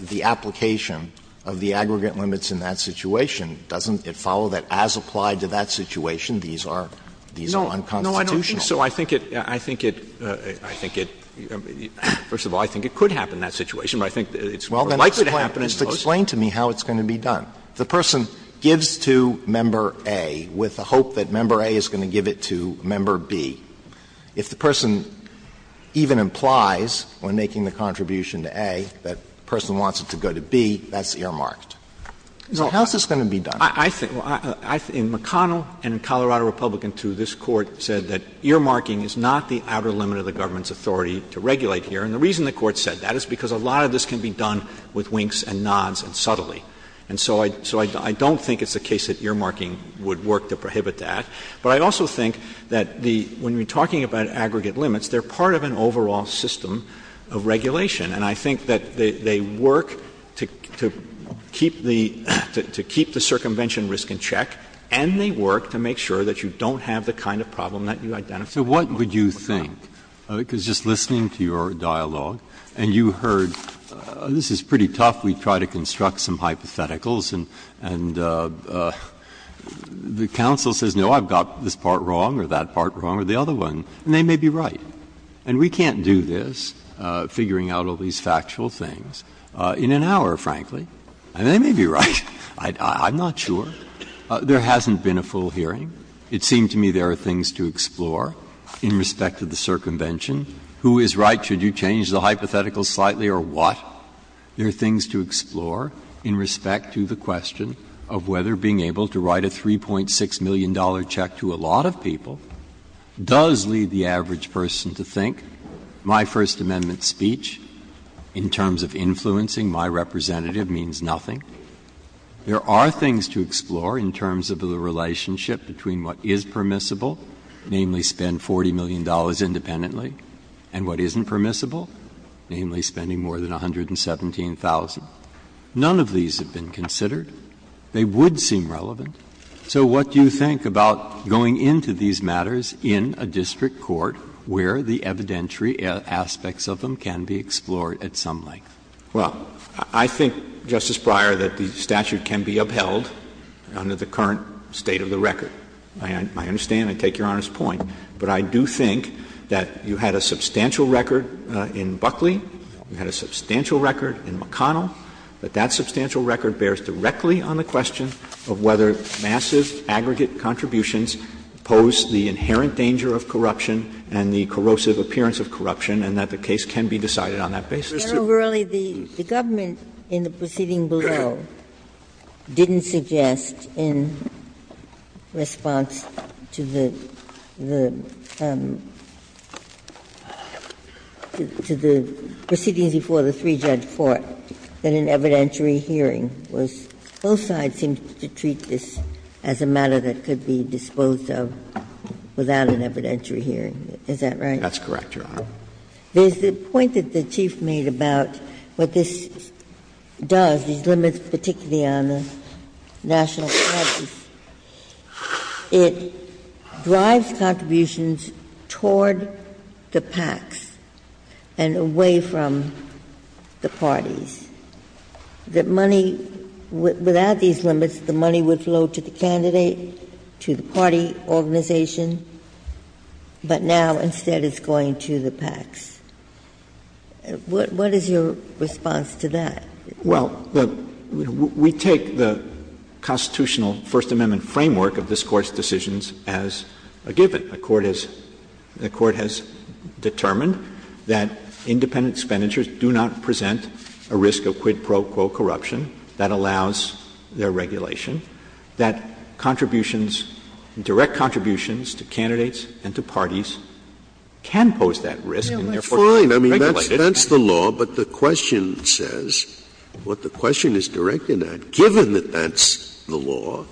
the application of the aggregate limits in that situation, doesn't it follow that as applied to that situation, these are — these are unconstitutional? Verrilli, No, I don't think so. I think it — I think it — I think it — first of all, I think it could happen in that situation, but I think it's more likely to happen in both. Alito, Well, then just explain to me how it's going to be done. If the person gives to member A with the hope that member A is going to give it to member B, if the person even implies, when making the contribution to A, that the person wants it to go to B, that's earmarked. So how is this going to be done? Verrilli, I think — in McConnell and in Colorado Republican II, this Court said that earmarking is not the outer limit of the government's authority to regulate here. And the reason the Court said that is because a lot of this can be done with winks and nods and subtly. And so I don't think it's the case that earmarking would work to prohibit that. But I also think that the — when we're talking about aggregate limits, they're part of an overall system of regulation, and I think that they work to keep the — to keep the circumvention risk in check, and they work to make sure that you don't have the kind of problem that you identified. Breyer. So what would you think? Because just listening to your dialogue, and you heard — this is pretty tough. We try to construct some hypotheticals, and the counsel says, no, I've got a problem and I've got this part wrong or that part wrong or the other one, and they may be right. And we can't do this, figuring out all these factual things, in an hour, frankly. And they may be right. I'm not sure. There hasn't been a full hearing. It seemed to me there are things to explore in respect to the circumvention. Who is right? Should you change the hypothetical slightly or what? There are things to explore in respect to the question of whether being able to write a $3.6 million check to a lot of people does lead the average person to think my First Amendment speech, in terms of influencing my representative, means nothing. There are things to explore in terms of the relationship between what is permissible, namely spend $40 million independently, and what isn't permissible, namely spending more than $117,000. None of these have been considered. They would seem relevant. So what do you think about going into these matters in a district court where the evidentiary aspects of them can be explored at some length? Verrilli, I think, Justice Breyer, that the statute can be upheld under the current state of the record. I understand and I take Your Honor's point, but I do think that you had a substantial record in Buckley, you had a substantial record in McConnell, but that substantial record bears directly on the question of whether massive aggregate contributions pose the inherent danger of corruption and the corrosive appearance of corruption, and that the case can be decided on that basis. Ginsburg, the government in the proceeding below didn't suggest in response to the proceedings before the three-judge court that an evidentiary hearing was – both sides seemed to treat this as a matter that could be disposed of without an evidentiary hearing. Is that right? That's correct, Your Honor. There's the point that the Chief made about what this does, these limits particularly on the national taxes, it drives contributions toward the PACs and away from the parties. The money – without these limits, the money would flow to the candidate, to the party organization, but now instead it's going to the PACs. What is your response to that? Well, we take the constitutional First Amendment framework of this Court's decisions as a given. The Court has determined that independent expenditures do not present a risk of quid pro quo corruption. That allows their regulation. That contributions, direct contributions to candidates and to parties can pose that risk and therefore can be regulated. Fine. I mean, that's the law, but the question says, what the question is directed at, given that that's the law,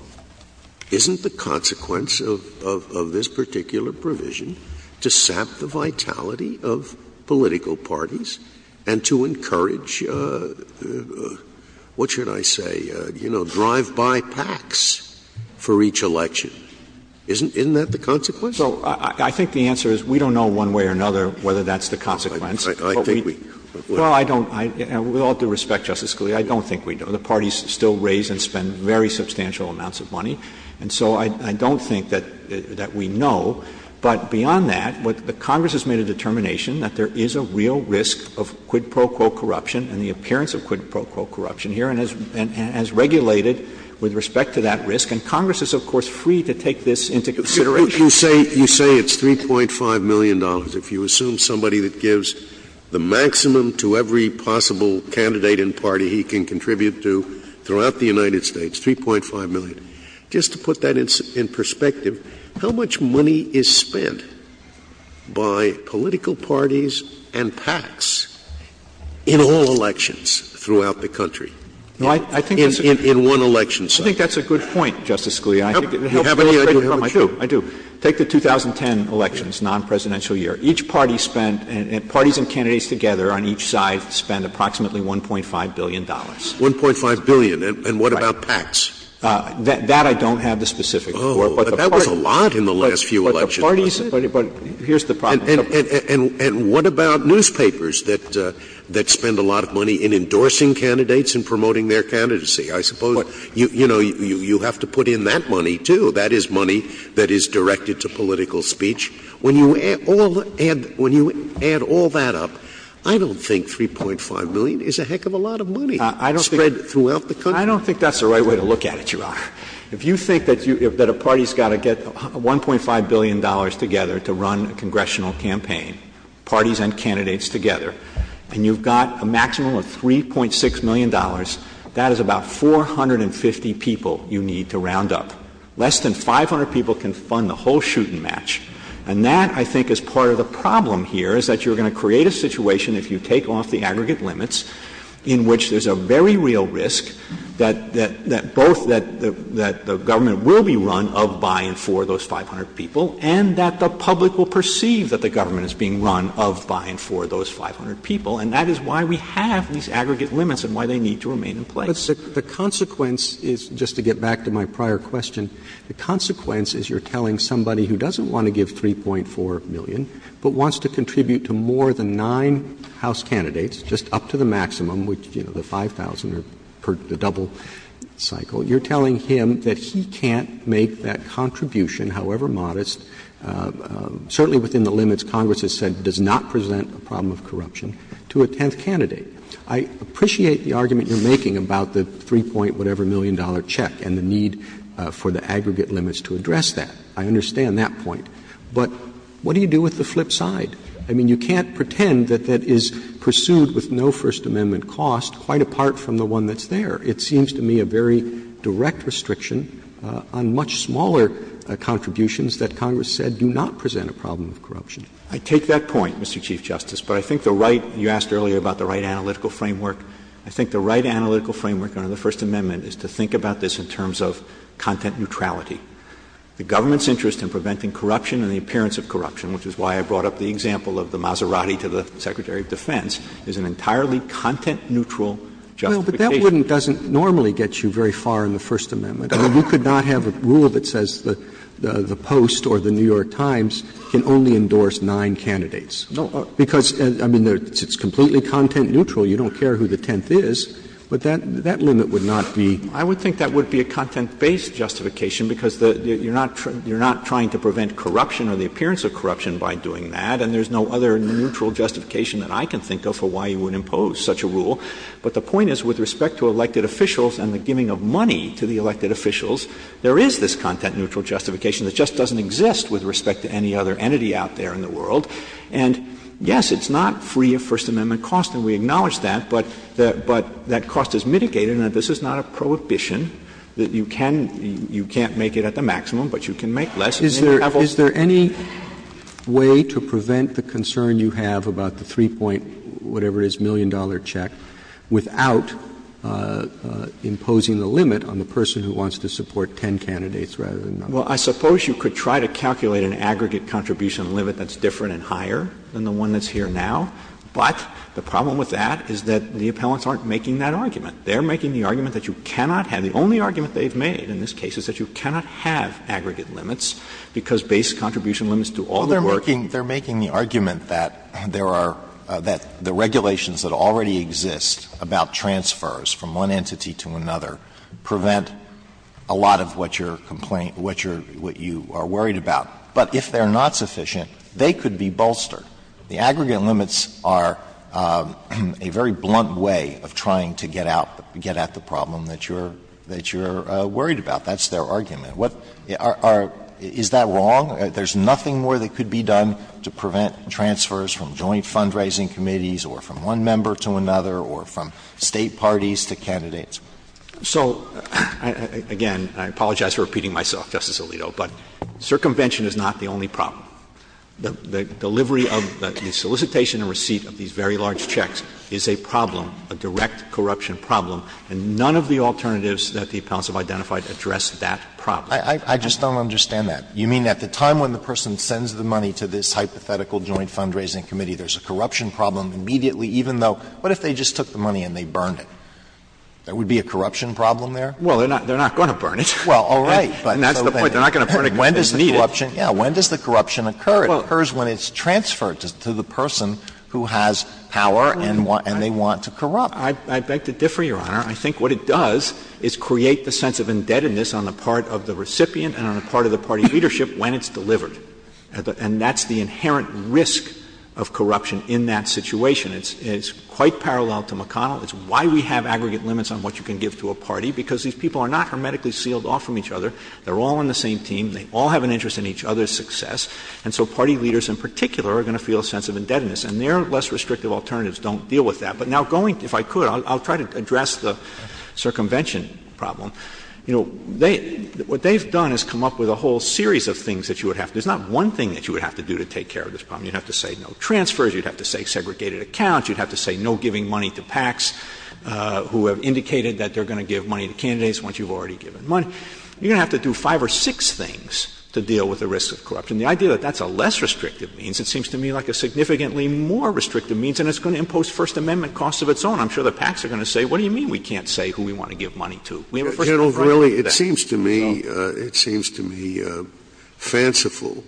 isn't the consequence of this particular provision to sap the vitality of political parties and to encourage, what should I say, you know, drive-by PACs for each election? Isn't that the consequence? So I think the answer is we don't know one way or another whether that's the consequence I think we Well, I don't – with all due respect, Justice Scalia, I don't think we know. The parties still raise and spend very substantial amounts of money, and so I don't think that we know, but beyond that, Congress has made a determination that there is a real risk of quid pro quo corruption and the appearance of quid pro quo corruption here and has regulated with respect to that risk, and Congress is, of course, free to take this into consideration. Scalia, you say it's $3.5 million. If you assume somebody that gives the maximum to every possible candidate and party he can contribute to throughout the United States, $3.5 million, just to put that in perspective, how much money is spent by political parties and PACs in all elections throughout the country, in one election cycle? I think that's a good point, Justice Scalia. I think it helps to illustrate your point, too. Take the 2010 elections, non-presidential year. Each party spent – parties and candidates together on each side spent approximately $1.5 billion. $1.5 billion, and what about PACs? That I don't have the specifics for, but the parties Oh, but that was a lot in the last few elections. But the parties – but here's the problem. And what about newspapers that spend a lot of money in endorsing candidates and promoting their candidacy? I suppose, you know, you have to put in that money, too. So that is money that is directed to political speech. When you add all that up, I don't think $3.5 million is a heck of a lot of money spread throughout the country. I don't think that's the right way to look at it, Your Honor. If you think that a party's got to get $1.5 billion together to run a congressional campaign, parties and candidates together, and you've got a maximum of $3.6 million, that is about 450 people you need to round up. Less than 500 people can fund the whole shoot-and-match. And that, I think, is part of the problem here, is that you're going to create a situation if you take off the aggregate limits in which there's a very real risk that both that the government will be run of, by, and for those 500 people, and that the public will perceive that the government is being run of, by, and for those 500 people, and that is why we have these aggregate limits and why they need to remain in place. Roberts, the consequence is, just to get back to my prior question, the consequence is you're telling somebody who doesn't want to give $3.4 million, but wants to contribute to more than nine House candidates, just up to the maximum, which, you know, the 5,000 per the double cycle, you're telling him that he can't make that contribution, however modest, certainly within the limits Congress has said does not present a problem of corruption, to a tenth candidate. I appreciate the argument you're making about the 3-point-whatever-million-dollar check and the need for the aggregate limits to address that. I understand that point. But what do you do with the flip side? I mean, you can't pretend that that is pursued with no First Amendment cost, quite apart from the one that's there. It seems to me a very direct restriction on much smaller contributions that Congress said do not present a problem of corruption. Verrilli, I take that point, Mr. Chief Justice. But I think the right — you asked earlier about the right analytical framework. I think the right analytical framework under the First Amendment is to think about this in terms of content neutrality. The government's interest in preventing corruption and the appearance of corruption, which is why I brought up the example of the Maserati to the Secretary of Defense, is an entirely content-neutral justification. Roberts. Roberts. Well, but that wouldn't — doesn't normally get you very far in the First Amendment. I mean, you could not have a rule that says the Post or the New York Times can only endorse nine candidates. Because, I mean, it's completely content-neutral. You don't care who the tenth is. But that limit would not be. Verrilli, I would think that would be a content-based justification because you're not trying to prevent corruption or the appearance of corruption by doing that, and there's no other neutral justification that I can think of for why you would impose such a rule. But the point is, with respect to elected officials and the giving of money to the elected officials, there is this content-neutral justification that just doesn't exist with respect to any other entity out there in the world. And, yes, it's not free of First Amendment cost, and we acknowledge that, but that cost is mitigated, and this is not a prohibition that you can't make it at the maximum, but you can make less at any level. Roberts. Is there any way to prevent the concern you have about the three-point, whatever it is, million-dollar check, without imposing the limit on the person who wants to support ten candidates rather than nine? Well, I suppose you could try to calculate an aggregate contribution limit that's different and higher than the one that's here now. But the problem with that is that the appellants aren't making that argument. They're making the argument that you cannot have the only argument they've made in this case is that you cannot have aggregate limits because base contribution limits do all the work. They're making the argument that there are the regulations that already exist about transfers from one entity to another prevent a lot of what you're complaining about, what you are worried about. But if they're not sufficient, they could be bolstered. The aggregate limits are a very blunt way of trying to get out, get at the problem that you're, that you're worried about. That's their argument. What are the other? Is that wrong? There's nothing more that could be done to prevent transfers from joint fundraising committees or from one member to another or from State parties to candidates. So, again, I apologize for repeating myself, Justice Alito, but circumvention is not the only problem. The delivery of the solicitation and receipt of these very large checks is a problem, a direct corruption problem, and none of the alternatives that the appellants have identified address that problem. I just don't understand that. You mean at the time when the person sends the money to this hypothetical joint fundraising committee, there's a corruption problem immediately, even though what if they just took the money and they burned it? There would be a corruption problem there? Well, they're not going to burn it. Well, all right. And that's the point. They're not going to burn it because they need it. When does the corruption occur? It occurs when it's transferred to the person who has power and they want to corrupt. I beg to differ, Your Honor. I think what it does is create the sense of indebtedness on the part of the recipient and on the part of the party leadership when it's delivered. And that's the inherent risk of corruption in that situation. It's quite parallel to McConnell. It's why we have aggregate limits on what you can give to a party, because these people are not hermetically sealed off from each other. They're all on the same team. They all have an interest in each other's success. And so party leaders in particular are going to feel a sense of indebtedness. And their less restrictive alternatives don't deal with that. But now going to — if I could, I'll try to address the circumvention problem. You know, they — what they've done is come up with a whole series of things that you would have to — there's not one thing that you would have to do to take care of this problem. You'd have to say no transfers. You'd have to say segregated accounts. You'd have to say no giving money to PACs who have indicated that they're going to give money to candidates once you've already given money. You're going to have to do five or six things to deal with the risk of corruption. The idea that that's a less restrictive means, it seems to me, like a significantly more restrictive means. And it's going to impose First Amendment costs of its own. I'm sure the PACs are going to say, what do you mean we can't say who we want to give money to? We have a First Amendment right over there. Scalia. It seems to me — it seems to me fanciful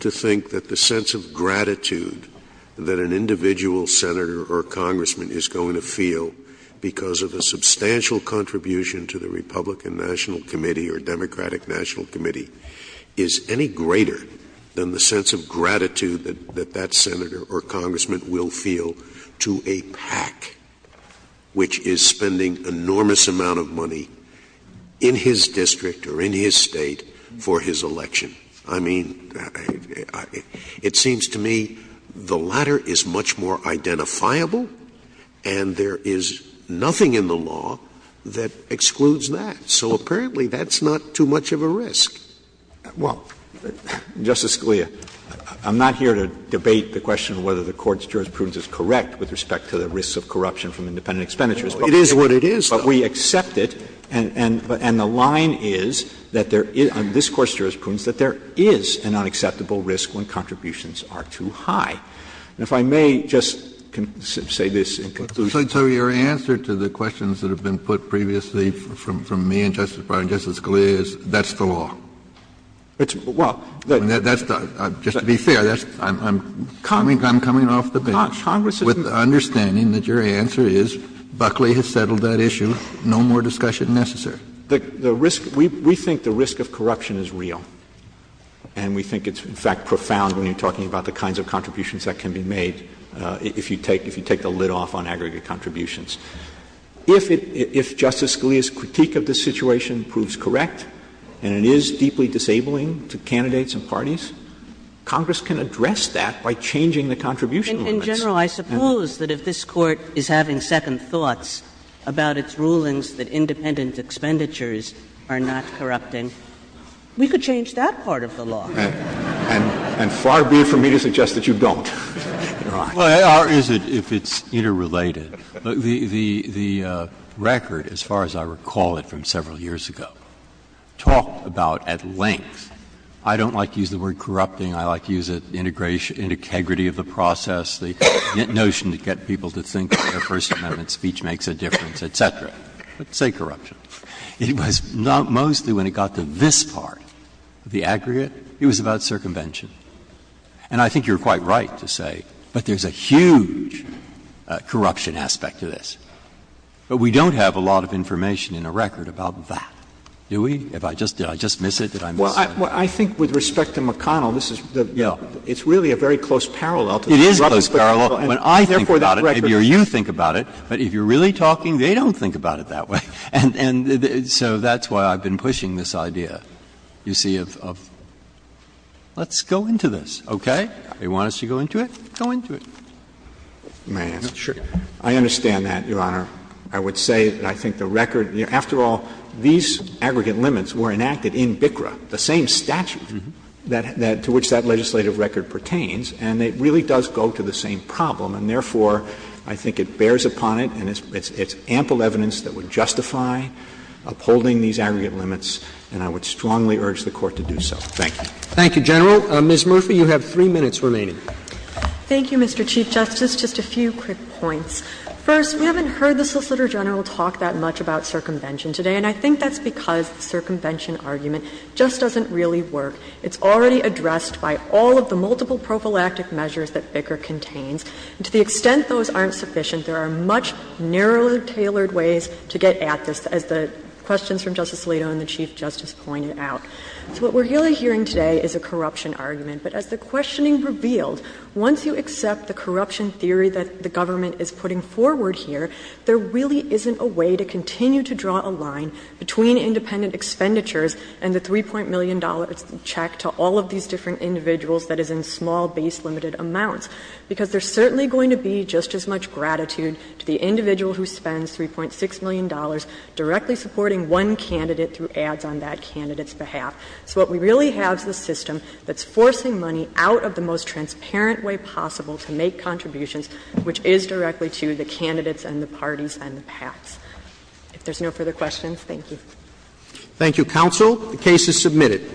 to think that the sense of gratitude that an individual senator or congressman is going to feel because of a substantial contribution to the Republican National Committee or Democratic National Committee is any greater than the sense of gratitude that that senator or congressman will feel to a PAC, which is spending enormous amount of money in his district or in his state for his election. I mean, it seems to me the latter is much more identifiable, and there is nothing in the law that excludes that. So apparently that's not too much of a risk. Verrilli, Jr. Well, Justice Scalia, I'm not here to debate the question of whether the Court's jurisprudence is correct with respect to the risks of corruption from independent expenditures. It is what it is. But we accept it. And the line is that there is, on this Court's jurisprudence, that there is an unacceptable risk when contributions are too high. And if I may just say this in conclusion. Kennedy, Jr. So your answer to the questions that have been put previously from me and Justice Breyer and Justice Scalia is, that's the law? Verrilli, Jr. Well, that's the law. Kennedy, Jr. Just to be fair, I'm coming off the bench with the understanding that your answer is Buckley has settled that issue. No more discussion necessary. Verrilli, Jr. The risk – we think the risk of corruption is real. And we think it's, in fact, profound when you're talking about the kinds of contributions that can be made if you take the lid off on aggregate contributions. If Justice Scalia's critique of the situation proves correct and it is deeply disabling to candidates and parties, Congress can address that by changing the contribution limits. In general, I suppose that if this Court is having second thoughts about its rulings that independent expenditures are not corrupting, we could change that part of the law. And far be it from me to suggest that you don't. Or is it, if it's interrelated? The record, as far as I recall it from several years ago, talked about at length I don't like to use the word corrupting. I like to use it, integrity of the process, the notion to get people to think that their First Amendment speech makes a difference, et cetera. But say corruption. It was not mostly when it got to this part of the aggregate. It was about circumvention. And I think you're quite right to say, but there's a huge corruption aspect to this. But we don't have a lot of information in the record about that, do we? Did I just miss it? Well, I think with respect to McConnell, this is the real, it's really a very close parallel. It is a close parallel. When I think about it, maybe you think about it, but if you're really talking, they don't think about it that way. And so that's why I've been pushing this idea, you see, of let's go into this, okay? They want us to go into it, go into it. May I answer? Sure. I understand that, Your Honor. I would say that I think the record, after all, these aggregate limits were enacted in BICRA, the same statute to which that legislative record pertains, and it really does go to the same problem. And therefore, I think it bears upon it, and it's ample evidence that would justify upholding these aggregate limits, and I would strongly urge the Court to do so. Thank you. Thank you, General. Ms. Murphy, you have three minutes remaining. Thank you, Mr. Chief Justice. Just a few quick points. First, we haven't heard the Solicitor General talk that much about circumvention today, and I think that's because the circumvention argument just doesn't really work. It's already addressed by all of the multiple prophylactic measures that BICRA contains. And to the extent those aren't sufficient, there are much narrower, tailored ways to get at this, as the questions from Justice Alito and the Chief Justice pointed out. So what we're really hearing today is a corruption argument, but as the questioning revealed, once you accept the corruption theory that the government is putting forward here, there really isn't a way to continue to draw a line between independent expenditures and the $3. million check to all of these different individuals that is in small, base-limited amounts, because there's certainly going to be just as much gratitude to the individual who spends $3. 6 million directly supporting one candidate through ads on that candidate's behalf. So what we really have is a system that's forcing money out of the most transparent way possible to make contributions, which is directly to the candidates and the parties and the PACs. If there's no further questions, thank you. Roberts. Thank you, counsel. The case is submitted.